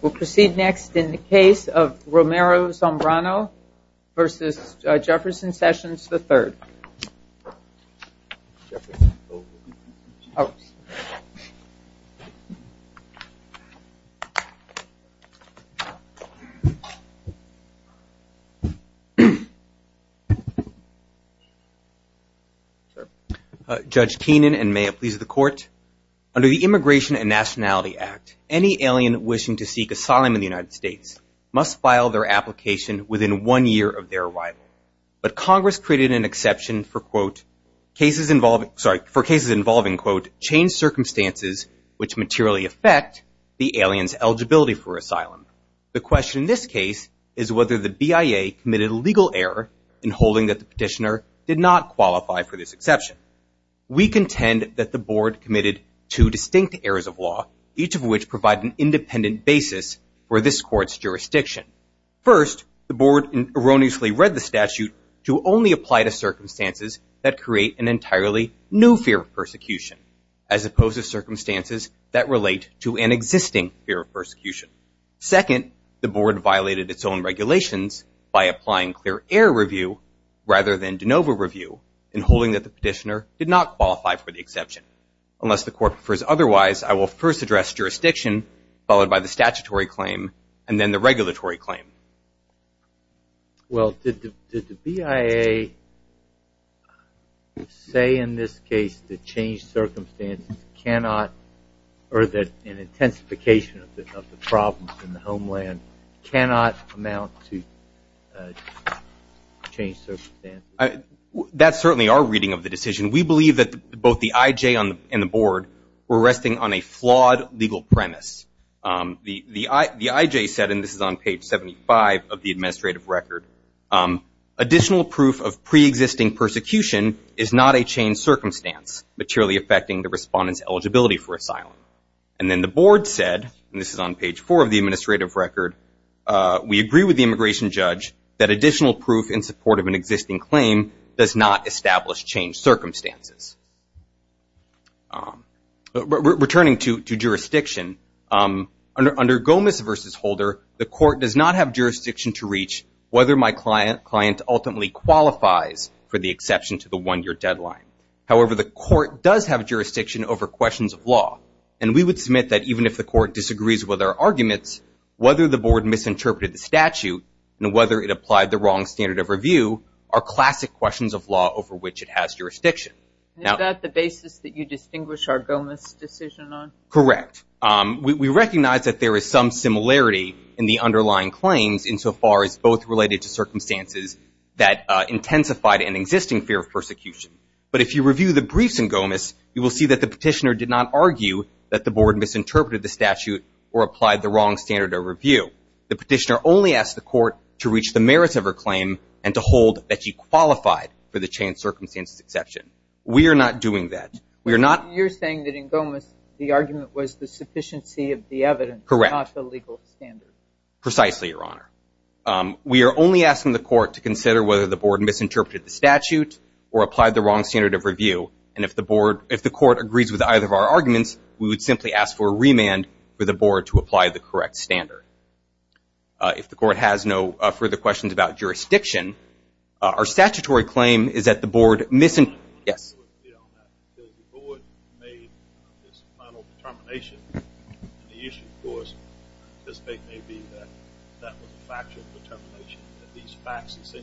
We'll proceed next in the case of Romero Zambrano v. Jefferson Sessions III. Judge Keenan and may it please the Court, under the Immigration and Nationality Act any alien wishing to seek asylum in the United States must file their application within one year of their arrival. But Congress created an exception for cases involving changed circumstances which materially affect the alien's eligibility for asylum. The question in this case is whether the BIA committed a legal error in holding that the petitioner did not qualify for this exception. We contend that the Board committed two distinct errors of law, each of which provide an independent basis for this Court's jurisdiction. First, the Board erroneously read the statute to only apply to circumstances that create an entirely new fear of persecution, as opposed to circumstances that relate to an existing fear of persecution. Second, the Board violated its own regulations by applying clear error review rather than de novo review in holding that the petitioner did not qualify for the exception. Unless the Court prefers otherwise, I will first address jurisdiction followed by the statutory claim and then the regulatory claim. Well, did the BIA say in this case that changed circumstances cannot, or that an intensification of the problems in the homeland cannot amount to changed circumstances? That's certainly our reading of the decision. We believe that both the IJ and the Board were resting on a flawed legal premise. The IJ said, and this is on page 75 of the administrative record, additional proof of preexisting persecution is not a changed circumstance, materially affecting the respondent's eligibility for asylum. And then the Board said, and this is on page 4 of the administrative record, we agree with the immigration judge that additional proof in support of an existing claim does not establish changed circumstances. Returning to jurisdiction, under Gomez v. Holder, the Court does not have jurisdiction to reach whether my client ultimately qualifies for the exception to the one-year deadline. However, the Court does have jurisdiction over questions of law, and we would submit that even if the Court disagrees with our arguments, whether the Board misinterpreted the statute, and whether it applied the wrong standard of review, are classic questions of law over which it has jurisdiction. Is that the basis that you distinguish our Gomez decision on? Correct. We recognize that there is some similarity in the underlying claims insofar as both related to circumstances that intensified an existing fear of persecution. But if you review the briefs in Gomez, you will see that the petitioner did not argue that the Board misinterpreted the statute or applied the wrong standard of review. The petitioner only asked the Court to reach the merits of her claim and to hold that she qualified for the changed circumstances exception. We are not doing that. We are not... You're saying that in Gomez, the argument was the sufficiency of the evidence, not the legal standard. Precisely, Your Honor. We are only asking the Court to consider whether the Board misinterpreted the statute or applied the wrong standard of review. And if the Court agrees with either of our arguments, we would simply ask for a remand for the Board to apply the correct standard. If the Court has no further questions about jurisdiction, our statutory claim is that the Board misinterpreted... Your Honor, I want to reiterate that the Board made its final determination, and the issue, of course, I anticipate may be that that was a factual determination, that these facts is an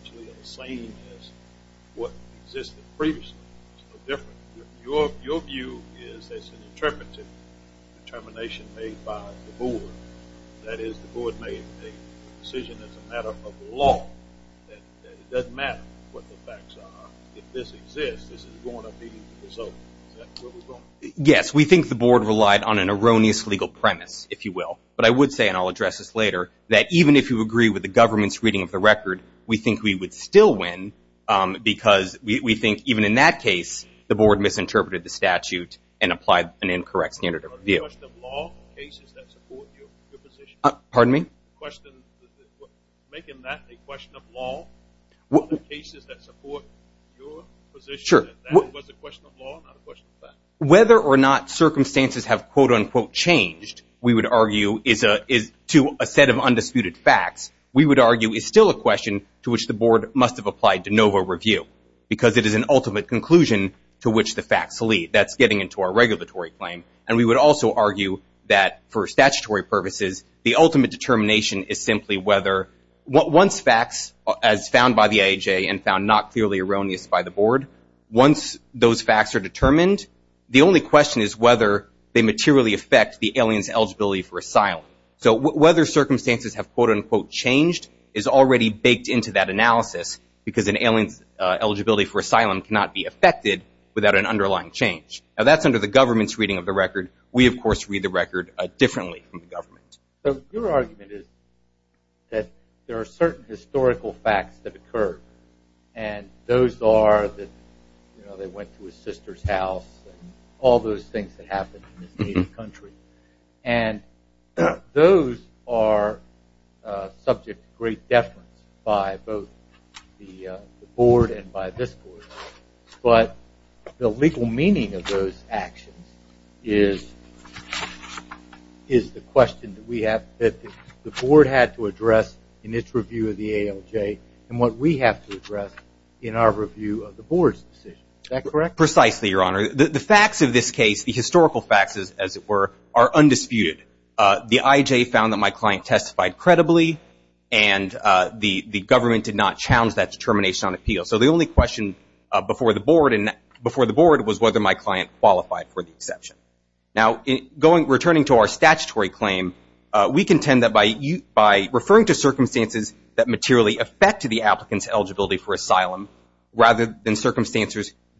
interpretive determination made by the Board. That is, the Board made a decision as a matter of law, that it doesn't matter what the facts are. If this exists, this is going to be the result. Is that where we're going? Yes. We think the Board relied on an erroneous legal premise, if you will. But I would say, and I'll address this later, that even if you agree with the government's reading of the record, we think we would still win because we think, even in that case, the Board misinterpreted the statute and applied an incorrect standard of review. Whether or not circumstances have, quote, unquote, changed, we would argue, to a set of undisputed facts, we would argue is still a question to which the Board must have applied a NOVA review because it is an ultimate conclusion to which the facts lead. That's getting into our regulatory claim. And we would also argue that, for statutory purposes, the ultimate determination is simply whether, once facts, as found by the IHA and found not clearly erroneous by the Board, once those facts are determined, the only question is whether they materially affect the alien's eligibility for asylum. So whether circumstances have, quote, unquote, changed is already baked into that analysis because an alien's eligibility for asylum cannot be affected without an underlying change. Now, that's under the government's reading of the record. We, of course, read the record differently from the government. So your argument is that there are certain historical facts that occur, and those are that, you know, they went to his sister's house and all those things that happened in his native country. And those are subject to great deference by both the IHA and the Board and by this Court. But the legal meaning of those actions is the question that we have that the Board had to address in its review of the ALJ and what we have to address in our review of the Board's decision. Is that correct? Precisely, Your Honor. The facts of this case, the historical facts, as it were, are undisputed. The IHA found that my client testified credibly, and the government did not challenge that determination on appeal. So the only question before the Board was whether my client qualified for the exception. Now, returning to our statutory claim, we contend that by referring to circumstances that materially affect the applicant's eligibility for asylum rather than circumstances that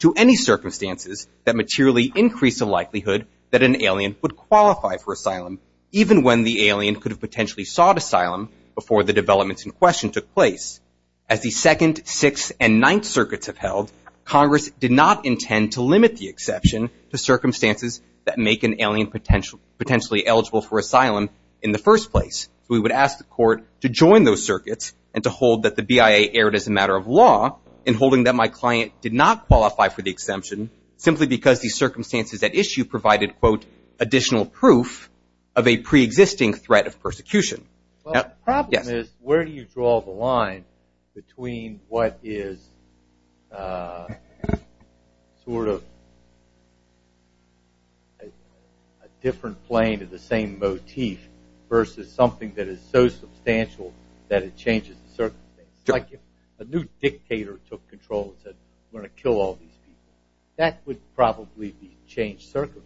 to any circumstances that materially increase the likelihood that an alien would qualify for asylum, even when the alien could have potentially sought asylum before the developments in question took place. As the Second, Sixth, and Ninth Circuits have held, Congress did not intend to limit the exception to circumstances that make an alien potentially eligible for asylum in the first place. So we would ask the Court to join those circuits and to hold that the BIA erred as a matter of law in holding that my client did not qualify for the exemption simply because the circumstances at issue provided, quote, additional proof of a preexisting threat of persecution. The problem is where do you draw the line between what is sort of a different plane to the same motif versus something that is so substantial that it changes the circumstance? Like if a new dictator took control and said, I'm going to kill all these people, that would probably be a changed circumstance.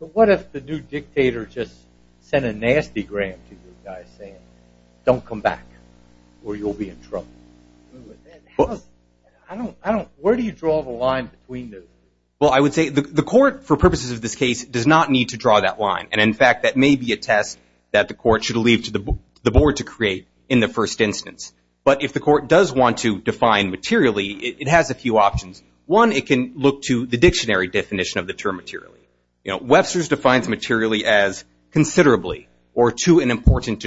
But what if the new dictator just sent a nasty gram to the guy saying, don't come back or you'll be in trouble? I don't, I don't, where do you draw the line between those two? Well, I would say the Court, for purposes of this case, does not need to draw that line. And in fact, that may be a test that the Court should leave to the Board to create in the first instance. But if the Court does want to define materially, it has a few options. One, it can look to the dictionary definition of the term materially. You know, Webster's defines materially as considerably or to an important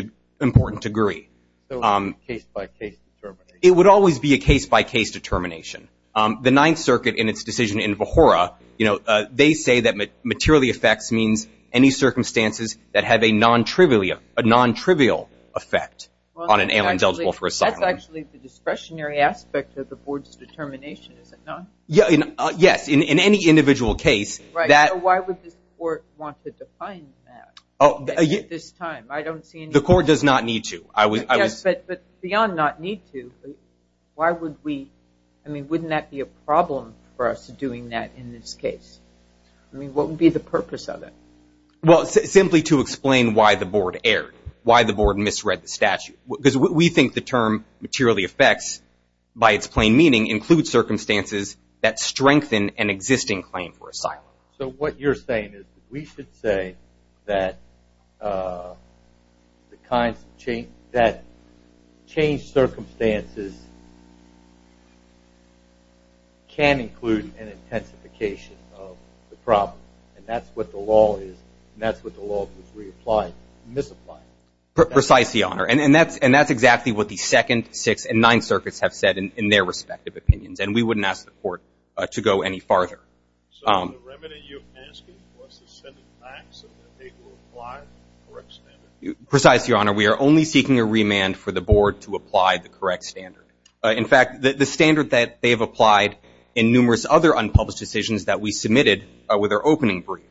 degree. So it's a case-by-case determination? It would always be a case-by-case determination. The Ninth Circuit in its decision in Vahora, you know, they say that materially affects means any circumstances that have a non-trivial effect on an alien eligible for asylum. That's actually the discretionary aspect of the Board's determination, is it not? Yes, in any individual case that... So why would this Court want to define that at this time? I don't see any... The Court does not need to. Yes, but beyond not need to, why would we, I mean, wouldn't that be a problem for us doing that in this case? I mean, what would be the purpose of it? Well, simply to explain why the Board erred, why the Board misread the statute. Because we think the term materially affects, by its plain meaning, includes circumstances that strengthen an existing claim for asylum. So what you're saying is we should say that the kinds of change, that changed circumstances can include an intensification of the problem, and that's what the law is, and that's what the law was reapplying, misapplying. Precisely, Your Honor, and that's exactly what the Second, Sixth, and Ninth Circuits have said in their respective opinions, and we wouldn't ask the Court to go any farther. So the remedy you're asking was to send it back so that they could apply the correct standard? Precisely, Your Honor, we are only seeking a remand for the Board to apply the correct standard. In fact, the standard that they have applied in numerous other unpublished decisions that we submitted with our opening brief.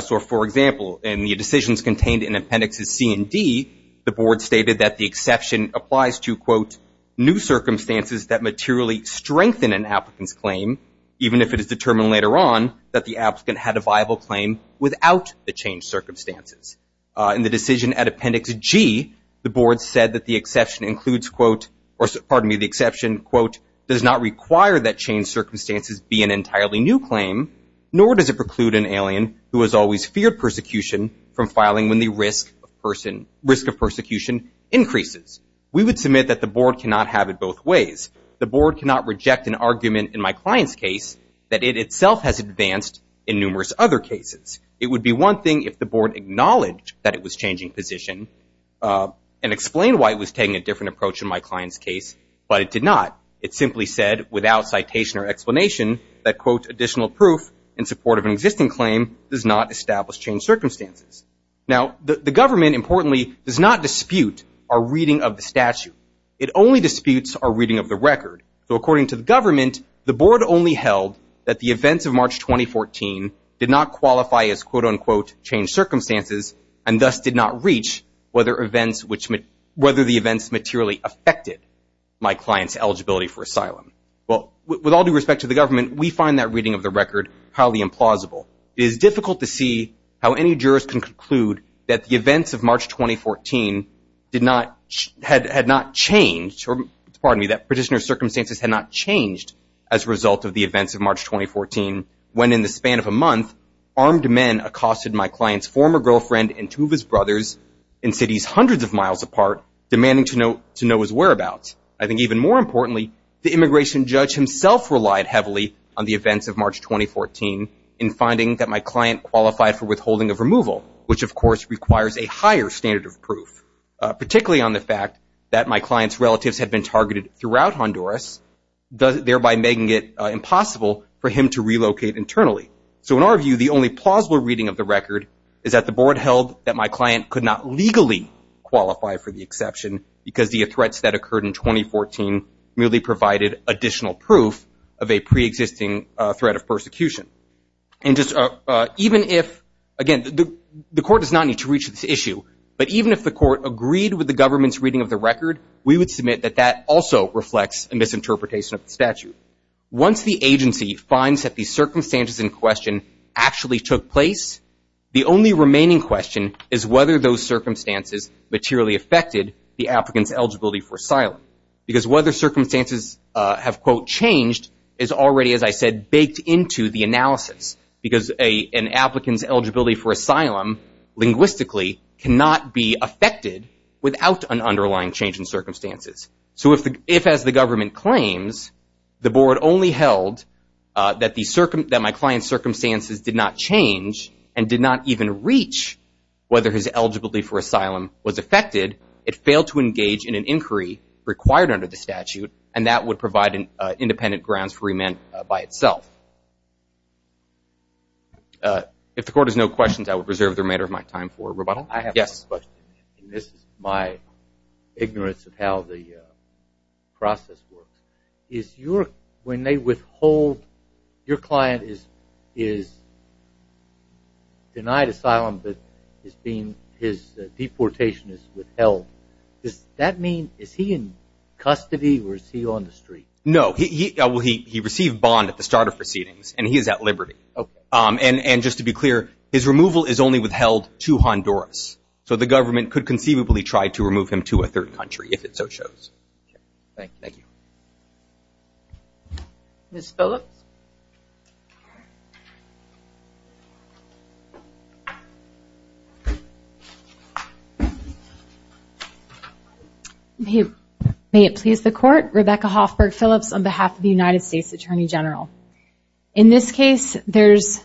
So for example, in the decisions contained in Appendixes C and D, the Board stated that the exception applies to, quote, new circumstances that materially strengthen an applicant's claim, even if it is determined later on that the applicant had a viable claim without the changed circumstances. In the decision at Appendix G, the Board said that the exception includes, quote, or pardon me, the exception, quote, does not require that changed circumstances be an entirely new claim, nor does it preclude an alien who has always feared persecution from filing when the risk of persecution increases. We would submit that the Board cannot have it both ways. The Board cannot reject an argument in my client's case that it itself has advanced in numerous other cases. It would be one thing if the Board acknowledged that it was changing position and explained why it was taking a different approach in my client's case, but it did not. It simply said without citation or explanation that, quote, additional proof in support of an existing claim does not establish changed circumstances. Now the government, importantly, does not dispute our reading of the statute. It only The Board only held that the events of March 2014 did not qualify as, quote, unquote, changed circumstances and thus did not reach whether the events materially affected my client's eligibility for asylum. Well, with all due respect to the government, we find that reading of the record highly implausible. It is difficult to see how any jurors can conclude that the events of March 2014 had not changed, or pardon me, that practitioner's circumstances had not changed as a result of the events of March 2014 when, in the span of a month, armed men accosted my client's former girlfriend and two of his brothers in cities hundreds of miles apart, demanding to know his whereabouts. I think even more importantly, the immigration judge himself relied heavily on the events of March 2014 in finding that my client qualified for withholding of removal, which, of course, requires a higher standard of proof, particularly on the fact that my client's relatives had been targeted throughout Honduras, thereby making it impossible for him to relocate internally. So in our view, the only plausible reading of the record is that the Board held that my client could not legally qualify for the exception because the threats that occurred in 2014 merely provided additional proof of a preexisting threat of persecution. Even if, again, the Court does not need to reach this issue, but even if the Court agreed with the government's reading of the record, we would submit that that also reflects a misinterpretation of the statute. Once the agency finds that the circumstances in question actually took place, the only remaining question is whether those circumstances materially affected the applicant's eligibility for asylum because whether circumstances have, quote, changed is already, as I said, baked into the analysis because an applicant's eligibility for asylum, linguistically, cannot be affected without an underlying change in circumstances. So if, as the government claims, the Board only held that my client's circumstances did not change and did not even reach whether his eligibility for asylum was affected, it failed to engage in an inquiry required under the statute, and that would provide independent grounds for remand by itself. If the Court has no questions, I would reserve the remainder of my time for rebuttal. Yes? This is my ignorance of how the process works. When your client is denied asylum, but his deportation is withheld, does that mean is he in custody or is he on the street? No. He received bond at the start of proceedings, and he is at liberty. And just to be clear, his removal is only withheld to Honduras, so the government could conceivably try to remove him to a third country, if it so shows. Thank you. Ms. Phillips? May it please the Court, Rebecca Hoffberg Phillips on behalf of the United States Attorney General. In this case, there's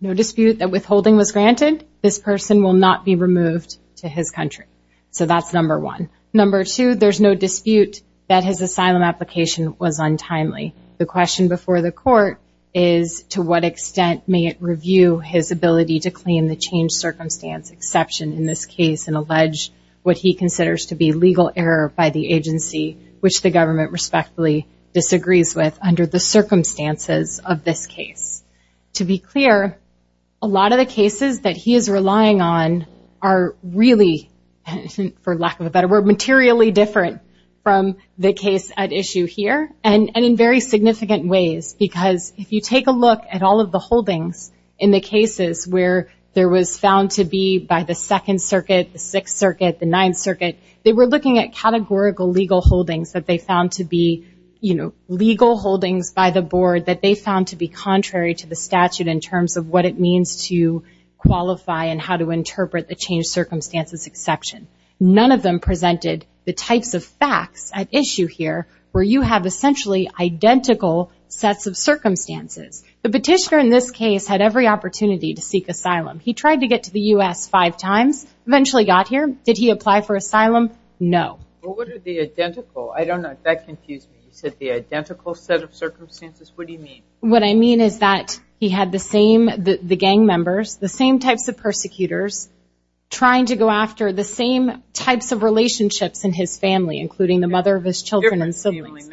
no dispute that withholding was granted. This person will not be removed to his country. So that's number one. Number two, there's no dispute that his asylum application was untimely. The question before the Court is to what extent may it review his ability to claim the changed circumstance exception in this case and allege what he considers to be legal error by the circumstances of this case. To be clear, a lot of the cases that he is relying on are really, for lack of a better word, materially different from the case at issue here, and in very significant ways. Because if you take a look at all of the holdings in the cases where there was found to be by the Second Circuit, the Sixth Circuit, the Ninth Circuit, they were looking at categorical legal holdings that they found to be, you know, legal holdings by the Board that they found to be contrary to the statute in terms of what it means to qualify and how to interpret the changed circumstances exception. None of them presented the types of facts at issue here where you have essentially identical sets of circumstances. The petitioner in this case had every opportunity to seek asylum. He tried to get to the U.S. five times, eventually got here. Did he apply for asylum? No. Well, what are the identical? I don't know. That confused me. You said the identical set of circumstances. What do you mean? What I mean is that he had the same gang members, the same types of persecutors, trying to go after the same types of relationships in his family, including the mother of his children and siblings. Different family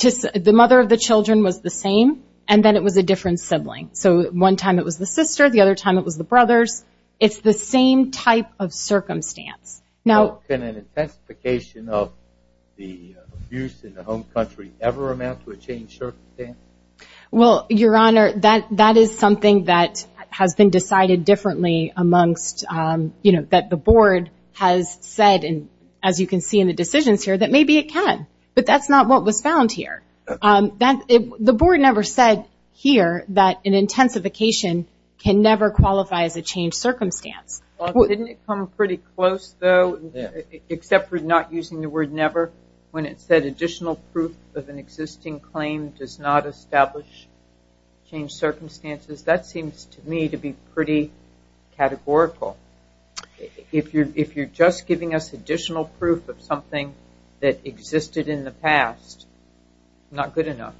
members. Different. The mother of the children was the same, and then it was a different sibling. So one time it was the sister, the other time it was the brothers. It's the same type of circumstance. How can an intensification of the abuse in the home country never amount to a changed circumstance? Well, Your Honor, that is something that has been decided differently amongst, you know, that the board has said, as you can see in the decisions here, that maybe it can. But that's not what was found here. The board never said here that an intensification can never qualify as a changed circumstance. Well, didn't it come pretty close, though, except for not using the word never, when it said additional proof of an existing claim does not establish changed circumstances? That seems to me to be pretty categorical. If you're just giving us additional proof of something that existed in the past, not good enough.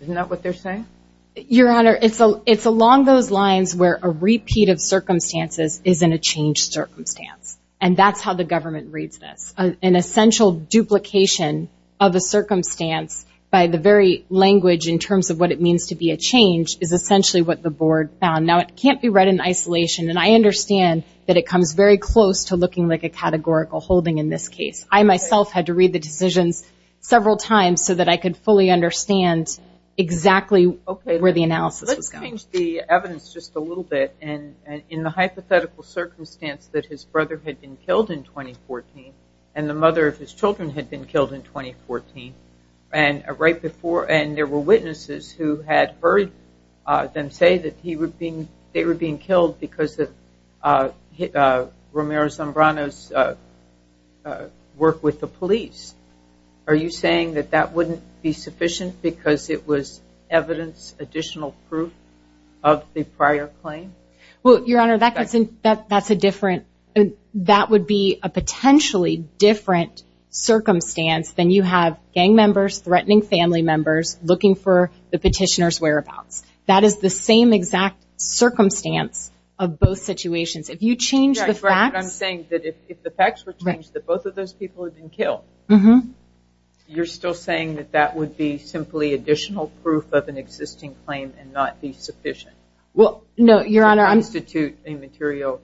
Isn't that what they're saying? Your Honor, it's along those lines where a repeat of circumstances isn't a changed circumstance. And that's how the government reads this. An essential duplication of a circumstance by the very language in terms of what it means to be a change is essentially what the board found. Now, it can't be read in isolation, and I understand that it comes very close to looking like a categorical holding in this case. I myself had to read the decisions several times so that I could fully understand exactly where the analysis was going. Okay. Let's change the evidence just a little bit. In the hypothetical circumstance that his brother had been killed in 2014, and the mother of his children had been killed in 2014, and there were witnesses who had heard them say that they were being killed because of Romero Zambrano's work with the police. Are you saying that that wouldn't be sufficient because it was evidence, additional proof of the prior claim? Well, Your Honor, that would be a potentially different circumstance than you have gang members, threatening family members, looking for the petitioner's whereabouts. That is the same exact circumstance of both situations. If you change the facts. Yeah, that's right. But I'm saying that if the facts were changed, that both of those people had been killed, you're still saying that that would be simply additional proof of an existing claim and not be sufficient to constitute a material...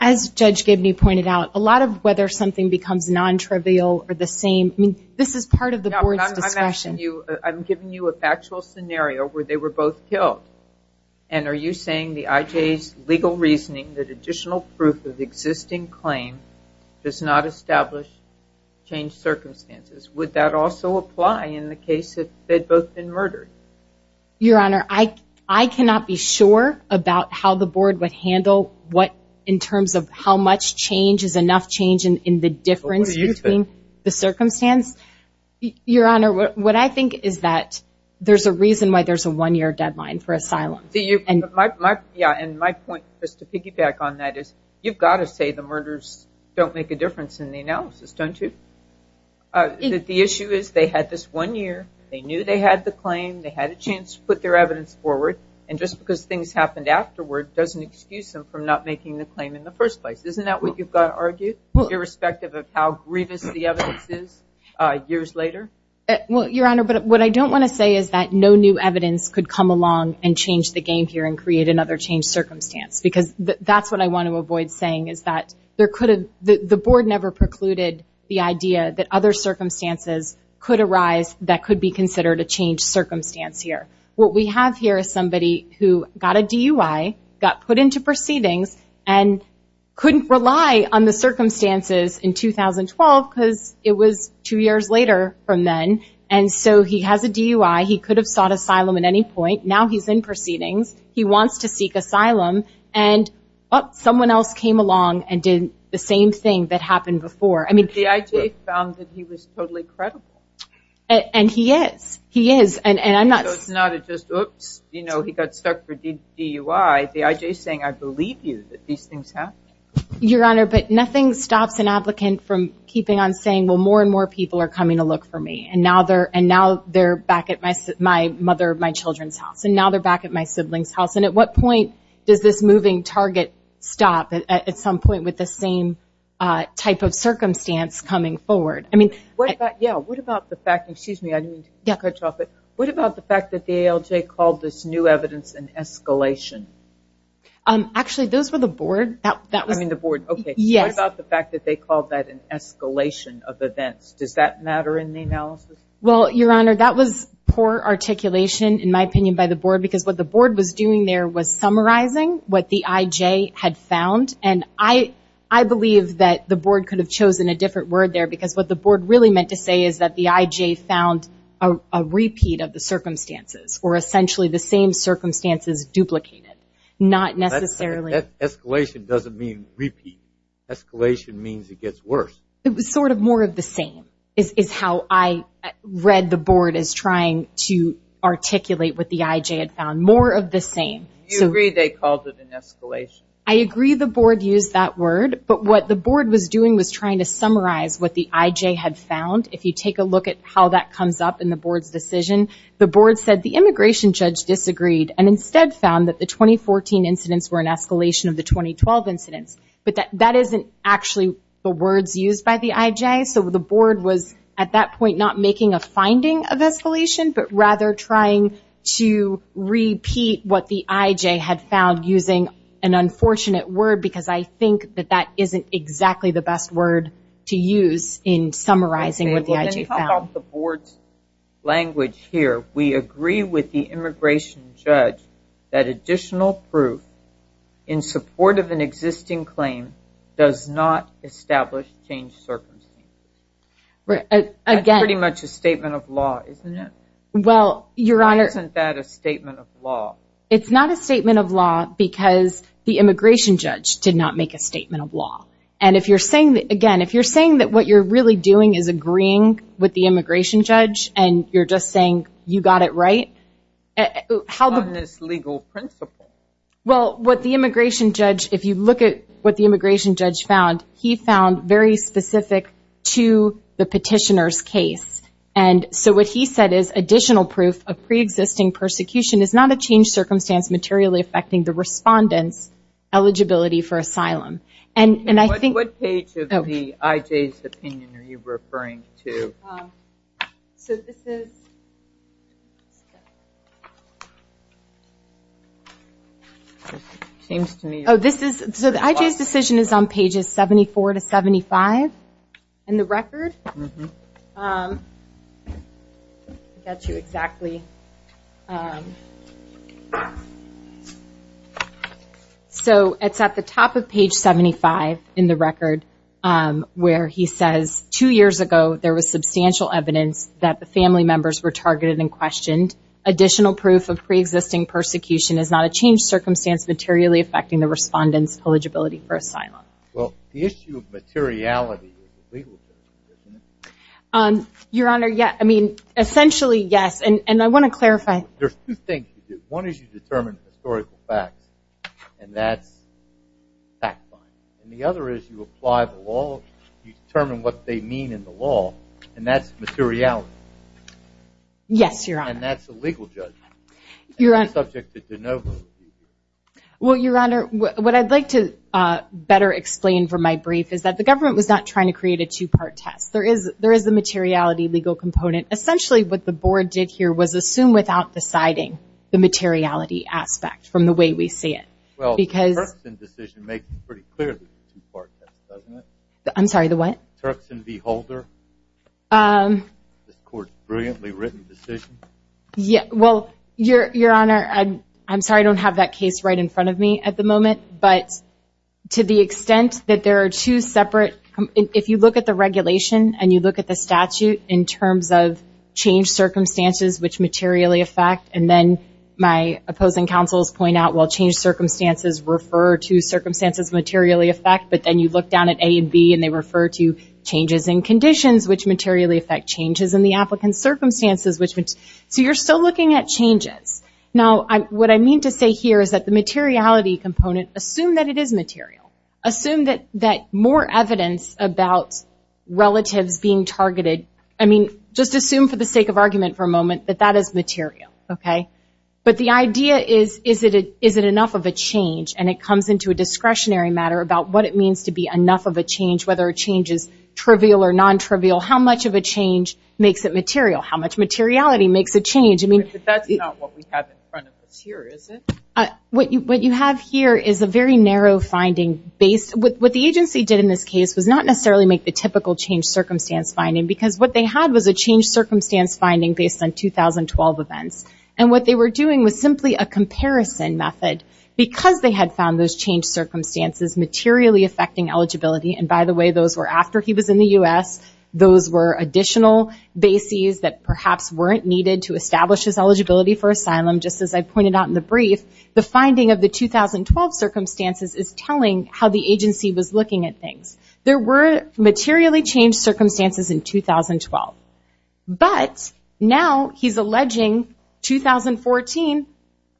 As Judge Gibney pointed out, a lot of whether something becomes non-trivial or the same, this is part of the board's discretion. I'm giving you a factual scenario where they were both killed, and are you saying the IJ's legal reasoning that additional proof of existing claim does not establish changed circumstances? Would that also apply in the case that they'd both been murdered? Your Honor, I cannot be sure about how the board would handle what, in terms of how much change is enough change in the difference between the circumstance. Your Honor, what I think is that there's a reason why there's a one-year deadline for asylum. Yeah, and my point, just to piggyback on that, is you've got to say the murders don't make a difference in the analysis, don't you? The issue is they had this one year, they knew they had the claim, they had a chance to put their evidence forward, and just because things happened afterward doesn't excuse them from not making the claim in the first place. Isn't that what you've got to argue, irrespective of how grievous the evidence is years later? Well, Your Honor, what I don't want to say is that no new evidence could come along and change the game here and create another changed circumstance, because that's what I want to avoid saying, is that the board never precluded the idea that other circumstances could arise that could be considered a changed circumstance here. What we have here is somebody who got a DUI, got put into proceedings, and couldn't rely on the circumstances in 2012, because it was two years later from then. And so he has a DUI, he could have sought asylum at any point, now he's in proceedings, he wants to seek asylum, and someone else came along and did the same thing that happened before. But D.I.J. found that he was totally credible. And he is. He is. So it's not just, oops, he got stuck for DUI, D.I.J. is saying, I believe you that these things happened. Your Honor, but nothing stops an applicant from keeping on saying, well, more and more people are coming to look for me, and now they're back at my mother, my children's house, and now they're back at my sibling's house. And at what point does this moving target stop at some point with the same type of circumstance coming forward? Yeah, what about the fact, excuse me, I didn't mean to cut you off, but what about the fact that the ALJ called this new evidence an escalation? Actually, those were the board, that was- I mean the board, okay. Yes. What about the fact that they called that an escalation of events? Does that matter in the analysis? Well, Your Honor, that was poor articulation, in my opinion, by the board, because what the board was doing there was summarizing what the I.J. had found, and I believe that the board could have chosen a different word there, because what the board really meant to say is that the I.J. found a repeat of the circumstances, or essentially the same circumstances duplicated. Not necessarily- Escalation doesn't mean repeat. Escalation means it gets worse. It was sort of more of the same, is how I read the board as trying to articulate what the I.J. had found. More of the same. Do you agree they called it an escalation? I agree the board used that word, but what the board was doing was trying to summarize what the I.J. had found. If you take a look at how that comes up in the board's decision, the board said the immigration judge disagreed, and instead found that the 2014 incidents were an escalation of the 2012 incidents. But that isn't actually the words used by the I.J., so the board was at that point not making a finding of escalation, but rather trying to repeat what the I.J. had found using an unfortunate word because I think that that isn't exactly the best word to use in summarizing what the I.J. found. Okay, well then how about the board's language here? We agree with the immigration judge that additional proof in support of an existing claim does not establish changed circumstances. Right, again- That's pretty much a statement of law, isn't it? Well, Your Honor- Why isn't that a statement of law? It's not a statement of law because the immigration judge did not make a statement of law. And if you're saying that, again, if you're saying that what you're really doing is agreeing with the immigration judge and you're just saying you got it right, how- On this legal principle. Well, what the immigration judge, if you look at what the immigration judge found, he found very specific to the petitioner's case. And so what he said is additional proof of pre-existing persecution is not a changed circumstance materially affecting the respondent's eligibility for asylum. And I think- What page of the I.J.'s opinion are you referring to? So this is, it seems to me- Oh, this is, so the I.J.'s decision is on pages 74 to 75 in the record. Mm-hmm. I'll get you exactly- So it's at the top of page 75 in the record where he says, two years ago, there was substantial evidence that the family members were targeted and questioned. Additional proof of pre-existing persecution is not a changed circumstance materially affecting the respondent's eligibility for asylum. Well, the issue of materiality is a legal judgment, isn't it? Your Honor, yeah. I mean, essentially, yes. And I want to clarify- There's two things you do. One is you determine historical facts, and that's fact-finding. And the other is you apply the law, you determine what they mean in the law, and that's materiality. Yes, Your Honor. And that's a legal judgment. You're on- And that's subject to de novo. Well, Your Honor, what I'd like to better explain for my brief is that the government was not trying to create a two-part test. There is a materiality legal component. Essentially, what the board did here was assume without deciding the materiality aspect from the way we see it. Well, the Turkson decision makes it pretty clear that it's a two-part test, doesn't it? I'm sorry, the what? The Turkson v. Holder. This Court's brilliantly written decision. Well, Your Honor, I'm sorry I don't have that case right in front of me at the moment, but to the extent that there are two separate- If you look at the regulation and you look at the statute in terms of change circumstances which materially affect, and then my opposing counsels point out, well, change circumstances refer to circumstances materially affect, but then you look down at A and B and they refer to changes in conditions which materially affect changes in the applicant's circumstances So you're still looking at changes. Now what I mean to say here is that the materiality component, assume that it is material. Assume that more evidence about relatives being targeted, I mean, just assume for the sake of argument for a moment that that is material, okay? But the idea is, is it enough of a change? And it comes into a discretionary matter about what it means to be enough of a change, whether a change is trivial or nontrivial. How much of a change makes it material? How much materiality makes a change? I mean- But that's not what we have in front of us here, is it? What you have here is a very narrow finding based- What the agency did in this case was not necessarily make the typical change circumstance finding because what they had was a change circumstance finding based on 2012 events. And what they were doing was simply a comparison method because they had found those change circumstances materially affecting eligibility, and by the way, those were after he was in the U.S., those were additional bases that perhaps weren't needed to establish his eligibility for asylum, just as I pointed out in the brief. The finding of the 2012 circumstances is telling how the agency was looking at things. There were materially changed circumstances in 2012, but now he's alleging 2014,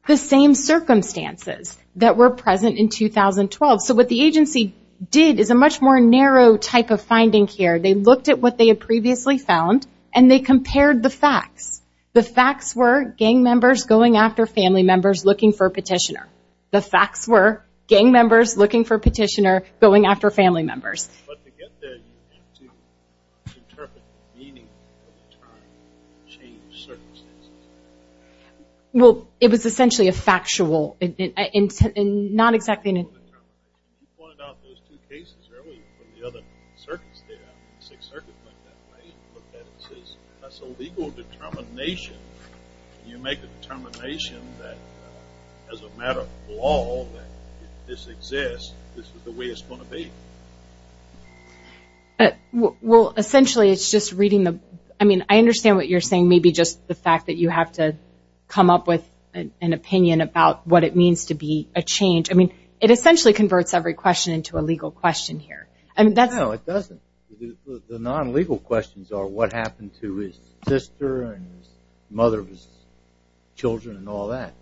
the same circumstances that were present in 2012. So what the agency did is a much more narrow type of finding here. They looked at what they had previously found, and they compared the facts. The facts were gang members going after family members looking for a petitioner. The facts were gang members looking for a petitioner going after family members. But to get there, you have to interpret meaning of the term change circumstances. Well, it was essentially a factual, and not exactly a... You pointed out those two cases earlier from the other circuits there, Sixth Circuit went that way and looked at it and says, that's a legal determination. You make a determination that as a matter of law, that if this exists, this is the way it's going to be. Well, essentially it's just reading the, I mean, I understand what you're saying, maybe just the fact that you have to come up with an opinion about what it means to be a change. I mean, it essentially converts every question into a legal question here. No, it doesn't. The non-legal questions are what happened to his sister and the mother of his children and all that.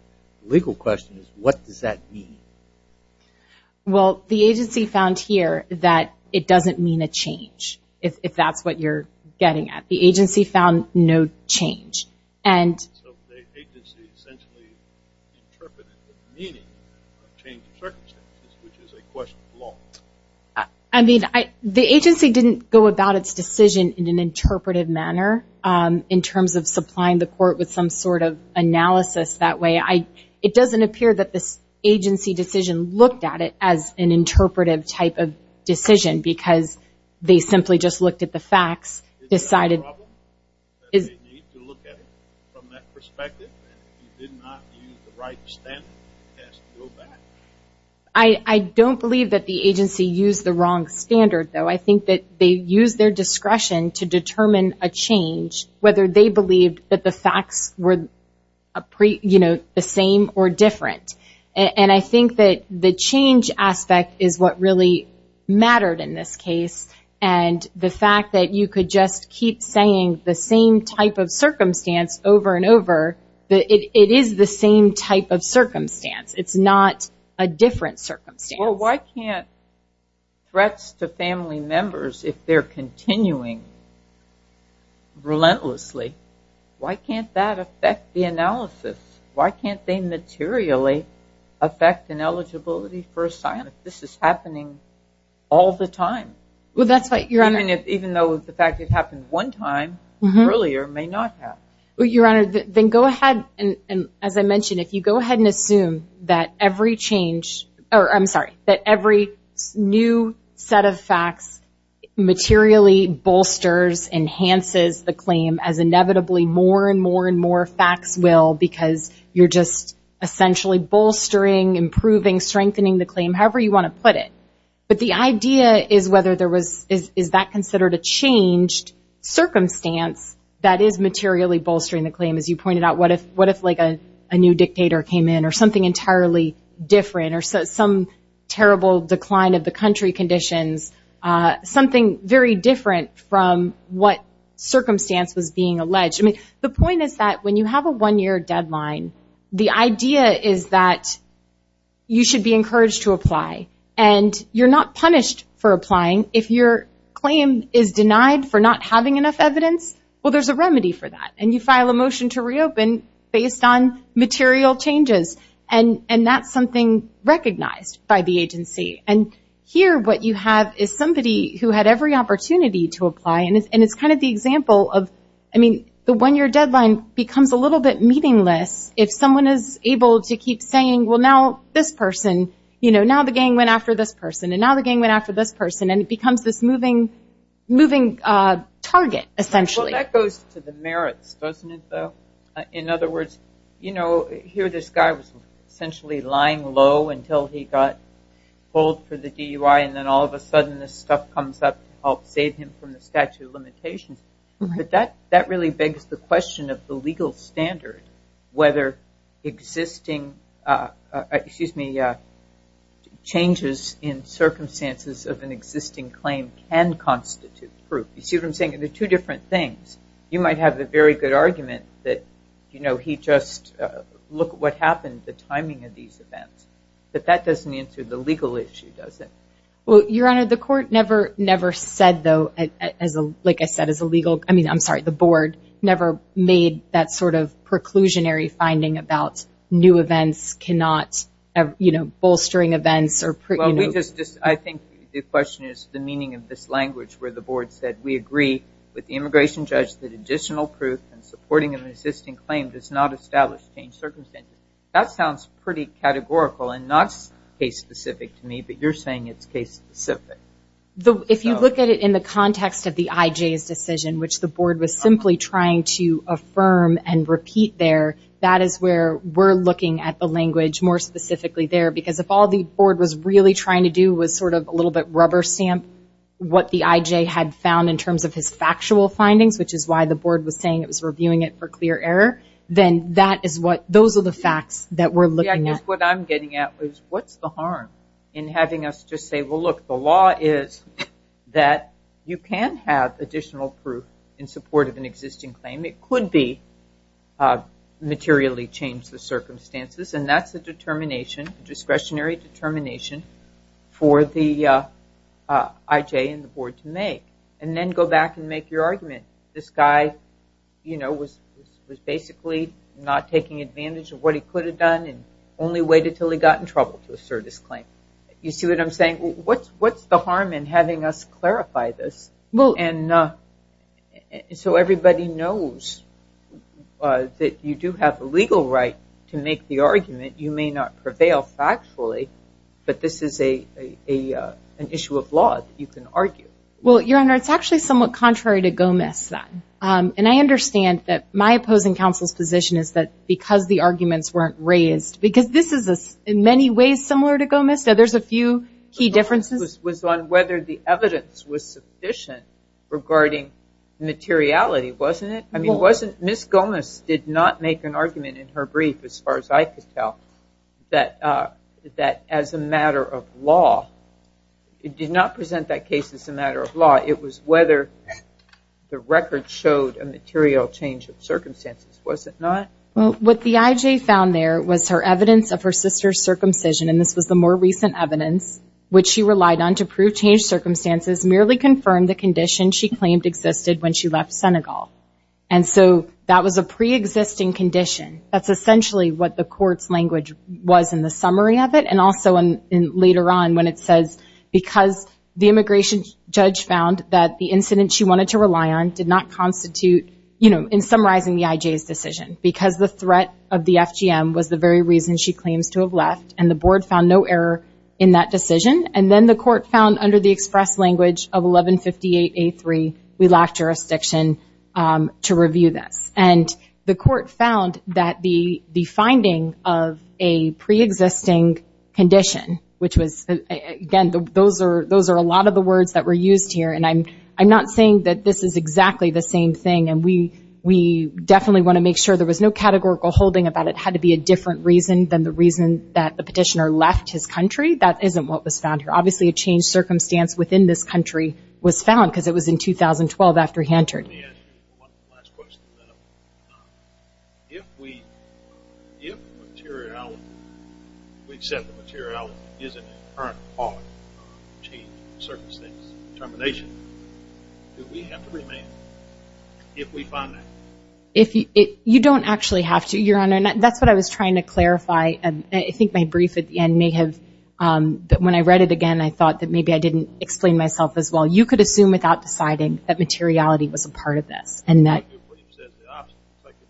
The legal question is, what does that mean? Well, the agency found here that it doesn't mean a change, if that's what you're getting at. The agency found no change. So the agency essentially interpreted the meaning of change of circumstances, which is a question of law. I mean, the agency didn't go about its decision in an interpretive manner, in terms of supplying the court with some sort of analysis that way. It doesn't appear that this agency decision looked at it as an interpretive type of decision because they simply just looked at the facts. Is it a problem that they need to look at it from that perspective? And if you did not use the right standard, you're asked to go back? I don't believe that the agency used the wrong standard, though. I think that they used their discretion to determine a change, whether they believed that the facts were the same or different. And I think that the change aspect is what really mattered in this case. And the fact that you could just keep saying the same type of circumstance over and over, it is the same type of circumstance. It's not a different circumstance. Well, why can't threats to family members, if they're continuing relentlessly, why can't that affect the analysis? Why can't they materially affect an eligibility for assignment? This is happening all the time. Well, that's right, Your Honor. Even though the fact it happened one time earlier may not have. Well, Your Honor, then go ahead, and as I mentioned, if you go ahead and assume that every change or I'm sorry, that every new set of facts materially bolsters, enhances the claim as inevitably more and more and more facts will because you're just essentially bolstering, improving, strengthening the claim, however you want to put it. But the idea is whether there was, is that considered a changed circumstance that is materially bolstering the claim? As you pointed out, what if like a new dictator came in or something entirely different or some terrible decline of the country conditions, something very different from what circumstance was being alleged? I mean, the point is that when you have a one-year deadline, the idea is that you should be encouraged to apply, and you're not punished for applying if your claim is denied for not having enough evidence. Well, there's a remedy for that, and you file a motion to reopen based on material changes, and that's something recognized by the agency. And here what you have is somebody who had every opportunity to apply, and it's kind of the example of, I mean, the one-year deadline becomes a little bit meaningless if someone is able to keep saying, well, now this person, you know, now the gang went after this person, and now the gang went after this person, and it becomes this moving target, essentially. Well, that goes to the merits, doesn't it, though? In other words, you know, here this guy was essentially lying low until he got pulled for the DUI, and then all of a sudden this stuff comes up to help save him from the statute of limitations. But that really begs the question of the legal standard, whether existing changes in circumstances of an existing claim can constitute proof. You see what I'm saying? They're two different things. You might have a very good argument that, you know, he just, look what happened, the timing of these events, but that doesn't answer the legal issue, does it? Well, Your Honor, the court never said, though, like I said, as a legal, I mean, I'm sorry, the board never made that sort of preclusionary finding about new events cannot, you know, bolstering events. I think the question is the meaning of this language where the board said, we agree with the immigration judge that additional proof in supporting an existing claim does not establish changed circumstances. That sounds pretty categorical and not case-specific to me, but you're saying it's case-specific. If you look at it in the context of the IJ's decision, which the board was simply trying to affirm and repeat there, that is where we're looking at the language more specifically there, because if all the board was really trying to do was sort of a little bit rubber stamp what the IJ had found in terms of his factual findings, which is why the board was saying it was reviewing it for clear error, then that is what, those are the facts that we're looking at. What I'm getting at is what's the harm in having us just say, well, look, the law is that you can have additional proof in support of an existing claim. It could be materially changed circumstances, and that's a determination, discretionary determination for the IJ and the board to make, and then go back and make your argument. This guy was basically not taking advantage of what he could have done and only waited until he got in trouble to assert his claim. You see what I'm saying? What's the harm in having us clarify this? And so everybody knows that you do have a legal right to make the argument. You may not prevail factually, but this is an issue of law that you can argue. Well, Your Honor, it's actually somewhat contrary to Gomis, and I understand that my opposing counsel's position is that because the arguments weren't raised, because this is in many ways similar to Gomis. There's a few key differences. My question was on whether the evidence was sufficient regarding materiality, wasn't it? I mean, Ms. Gomis did not make an argument in her brief, as far as I could tell, that as a matter of law. It did not present that case as a matter of law. It was whether the record showed a material change of circumstances, was it not? Well, what the IJ found there was her evidence of her sister's circumcision, and this was the more recent evidence, which she relied on to prove changed circumstances, merely confirmed the condition she claimed existed when she left Senegal. And so that was a preexisting condition. That's essentially what the court's language was in the summary of it, and also later on when it says because the immigration judge found that the incident she wanted to rely on did not constitute, you know, in summarizing the IJ's decision, because the threat of the FGM was the very reason she claims to have left, and the board found no error in that decision. And then the court found under the express language of 1158A3, we lack jurisdiction to review this. And the court found that the finding of a preexisting condition, which was, again, those are a lot of the words that were used here, and I'm not saying that this is exactly the same thing, and we definitely want to make sure there was no categorical holding about it had to be a different reason than the reason that the petitioner left his country. That isn't what was found here. Obviously, a changed circumstance within this country was found because it was in 2012 after he entered. Let me ask you one last question. If we, if the materiality, we accept the materiality is an inherent part of change, circumstance, termination, do we have to remain if we find that? You don't actually have to, Your Honor. That's what I was trying to clarify, and I think my brief at the end may have, but when I read it again, I thought that maybe I didn't explain myself as well. You could assume without deciding that materiality was a part of this and that. The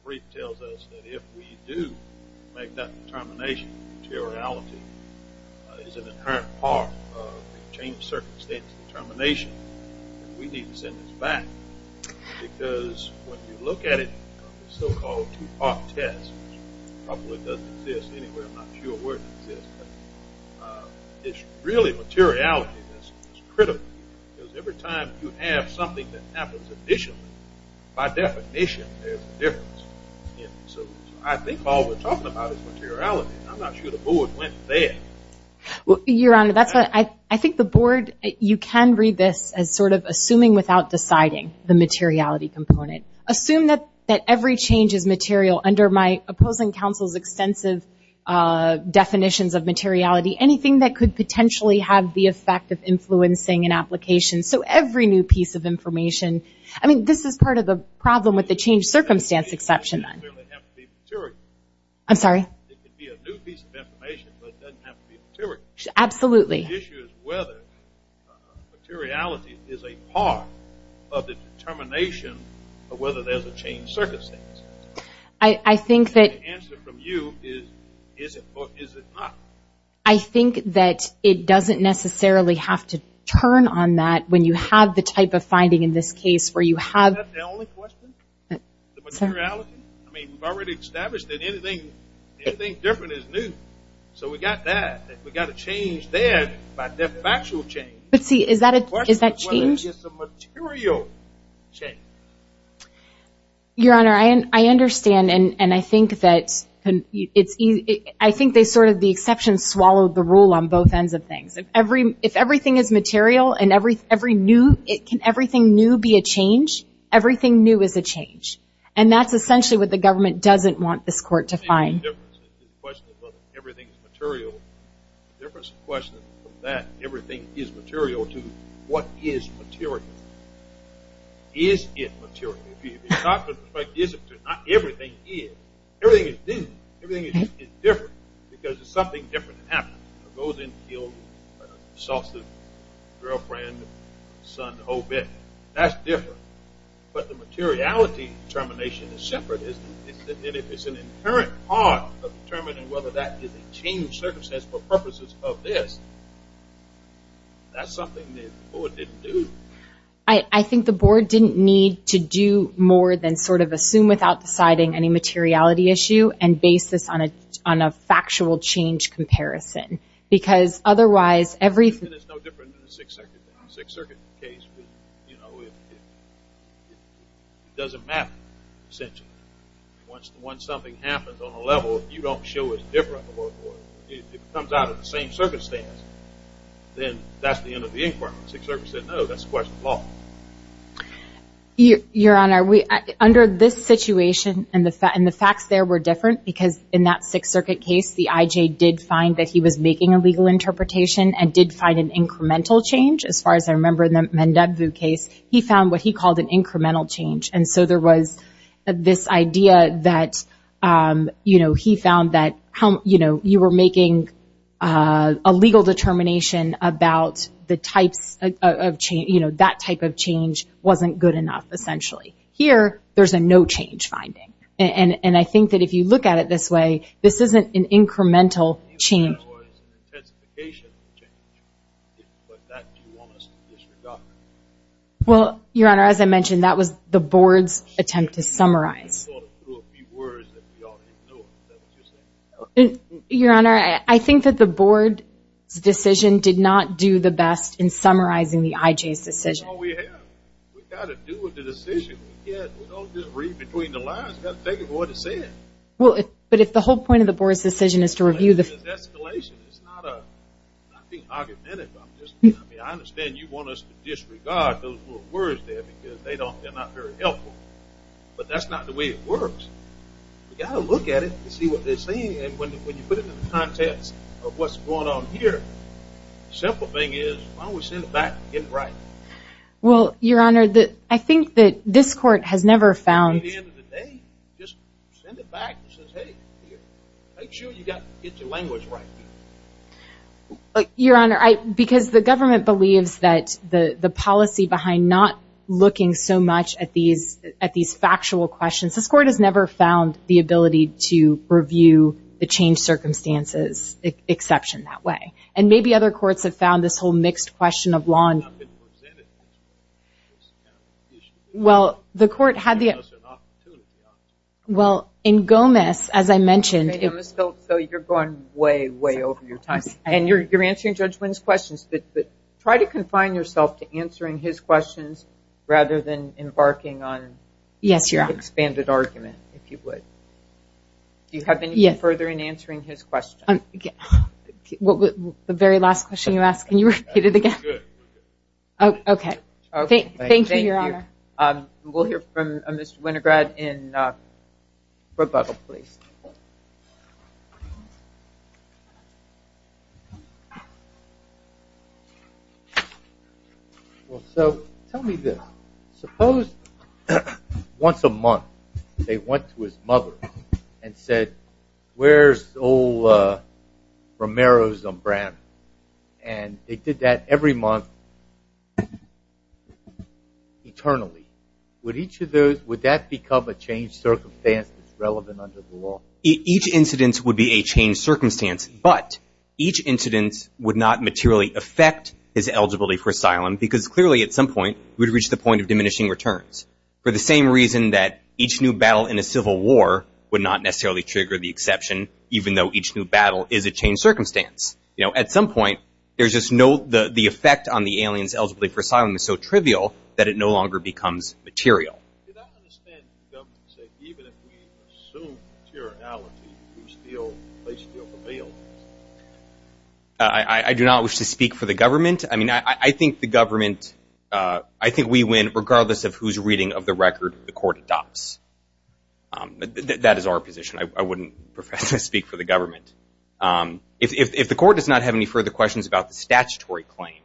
brief tells us that if we do make that determination, materiality is an inherent part of change, circumstance, and termination, we need to send this back because when you look at it, the so-called two-part test probably doesn't exist anywhere. I'm not sure where it exists, but it's really materiality that's critical because every time you have something that happens additionally, by definition, there's a difference. So I think all we're talking about is materiality. I'm not sure the board went there. Your Honor, I think the board, you can read this as sort of assuming without deciding the materiality component. Assume that every change is material under my opposing counsel's extensive definitions of materiality, anything that could potentially have the effect of influencing an application. So every new piece of information, I mean, this is part of the problem with the change circumstance exception. It doesn't necessarily have to be material. I'm sorry? It could be a new piece of information, but it doesn't have to be material. Absolutely. The issue is whether materiality is a part of the determination of whether there's a change circumstance. I think that— The answer from you is, is it not? I think that it doesn't necessarily have to turn on that when you have the type of finding in this case where you have— Is that the only question? The materiality? I mean, we've already established that anything different is new. So we've got that. We've got a change there, but a factual change. But see, is that a change? It's a material change. Your Honor, I understand, and I think that it's—I think they sort of—the exception swallowed the rule on both ends of things. If everything is material and every new—can everything new be a change? Everything new is a change. And that's essentially what the government doesn't want this court to find. The only difference is the question of whether everything is material. The difference in question from that, everything is material, to what is material. Is it material? If it's not material, it's not everything is. Everything is new. Everything is different because it's something different that happens. It goes in, kills, assaults his girlfriend, son, the whole bit. That's different. But the materiality determination is separate. And if it's an inherent part of determining whether that is a change circumstance for purposes of this, that's something that the board didn't do. I think the board didn't need to do more than sort of assume without deciding any materiality issue and base this on a factual change comparison because otherwise everything— Sixth Circuit case, you know, it doesn't matter essentially. Once something happens on a level, you don't show it's different. If it comes out of the same circumstance, then that's the end of the inquiry. Sixth Circuit said, no, that's a question of law. Your Honor, under this situation and the facts there were different because in that Sixth Circuit case the I.J. did find that he was making a legal interpretation and did find an incremental change as far as I remember in the Mendebvu case. He found what he called an incremental change. And so there was this idea that, you know, he found that, you know, you were making a legal determination about the types of change, you know, that type of change wasn't good enough essentially. Here there's a no change finding. And I think that if you look at it this way, this isn't an incremental change. It's an intensification change. But that you want us to disregard. Well, Your Honor, as I mentioned, that was the Board's attempt to summarize. I thought it through a few words that we all didn't know. Is that what you're saying? Your Honor, I think that the Board's decision did not do the best in summarizing the I.J.'s decision. That's all we have. We've got to do with the decision. We can't just read between the lines. We've got to take it for what it says. But if the whole point of the Board's decision is to review the ---- It's an escalation. It's not being argumentative. I understand you want us to disregard those little words there because they're not very helpful. But that's not the way it works. We've got to look at it and see what they're saying. And when you put it in the context of what's going on here, the simple thing is why don't we send it back and get it right? Well, Your Honor, I think that this Court has never found ---- At the end of the day, just send it back and say, hey, make sure you get your language right. Your Honor, because the government believes that the policy behind not looking so much at these factual questions, this Court has never found the ability to review the changed circumstances exception that way. And maybe other courts have found this whole mixed question of law and ---- It's not been presented as an issue. Well, the Court had the ---- Well, in Gomez, as I mentioned ---- So you're going way, way over your time. And you're answering Judge Wynn's questions. But try to confine yourself to answering his questions rather than embarking on ---- Yes, Your Honor. ---- your expanded argument, if you would. Do you have anything further in answering his question? The very last question you asked, can you repeat it again? That was good. Okay. Thank you, Your Honor. Thank you. We'll hear from Mr. Winograd in ----, please. Well, so tell me this. Suppose once a month they went to his mother and said, where's old Romero's umbrella? And they did that every month eternally. Would each of those, would that become a changed circumstance that's relevant under the law? Each incident would be a changed circumstance, but each incident would not materially affect his eligibility for asylum because clearly at some point it would reach the point of diminishing returns. For the same reason that each new battle in a civil war would not necessarily trigger the exception, even though each new battle is a changed circumstance. You know, at some point there's just no, the effect on the aliens' eligibility for asylum is so trivial that it no longer becomes material. Did I understand the government saying even if we assume materiality, they still prevail? I do not wish to speak for the government. I mean, I think the government, I think we win regardless of who's reading of the record the court adopts. That is our position. I wouldn't prefer to speak for the government. If the court does not have any further questions about the statutory claim,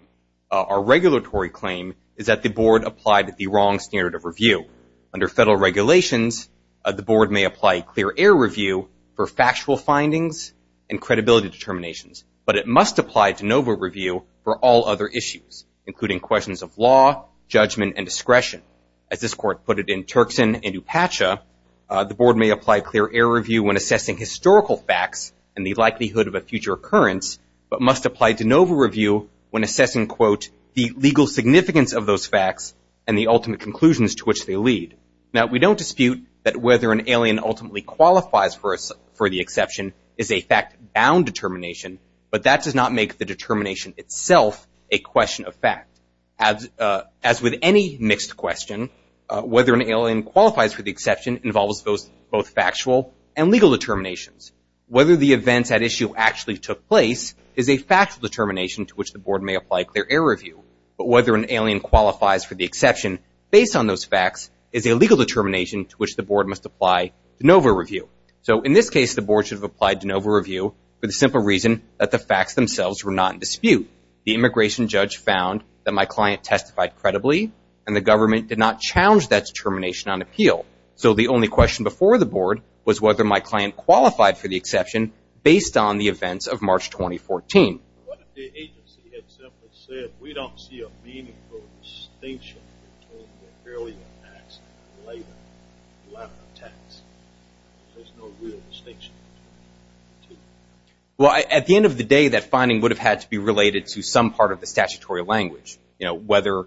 our regulatory claim is that the board applied the wrong standard of review. Under federal regulations, the board may apply clear air review for factual findings and credibility determinations, but it must apply to NOVA review for all other issues, including questions of law, judgment, and discretion. As this court put it in Turkson and Upacha, the board may apply clear air review when assessing historical facts and the likelihood of a future occurrence, but must apply to NOVA review when assessing, quote, the legal significance of those facts and the ultimate conclusions to which they lead. Now, we don't dispute that whether an alien ultimately qualifies for the exception is a fact-bound determination, but that does not make the determination itself a question of fact. As with any mixed question, whether an alien qualifies for the exception involves both factual and legal determinations. Whether the events at issue actually took place is a factual determination to which the board may apply clear air review, but whether an alien qualifies for the exception based on those facts is a legal determination to which the board must apply to NOVA review. So in this case, the board should have applied to NOVA review for the simple reason that the facts themselves were not in dispute. The immigration judge found that my client testified credibly and the government did not challenge that determination on appeal. So the only question before the board was whether my client qualified for the exception based on the events of March 2014. Well, at the end of the day, that finding would have had to be related to some part of the statutory language. You know, whether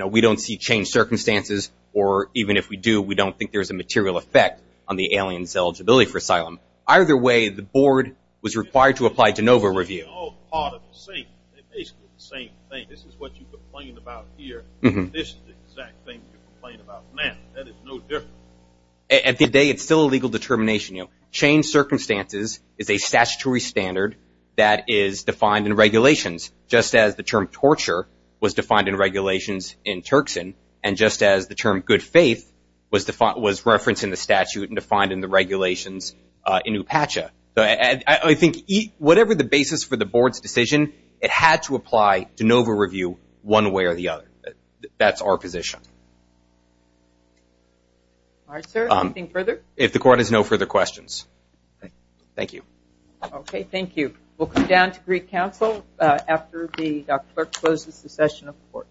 we don't see changed circumstances or even if we do, we don't think there's a material effect on the alien's eligibility for asylum. Either way, the board was required to apply to NOVA review. At the end of the day, it's still a legal determination. Changed circumstances is a statutory standard that is defined in regulations. Just as the term torture was defined in regulations in Turkson and just as the term good faith was referenced in the statute and defined in the regulations in Upacha. I think whatever the basis for the board's decision, it had to apply to NOVA review one way or the other. That's our position. All right, sir. Anything further? If the court has no further questions. Thank you. Okay, thank you. We'll come down to Greek Council after the clerk closes the session of the court.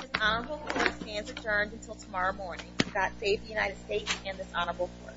This honorable court stands adjourned until tomorrow morning. God save the United States and this honorable court.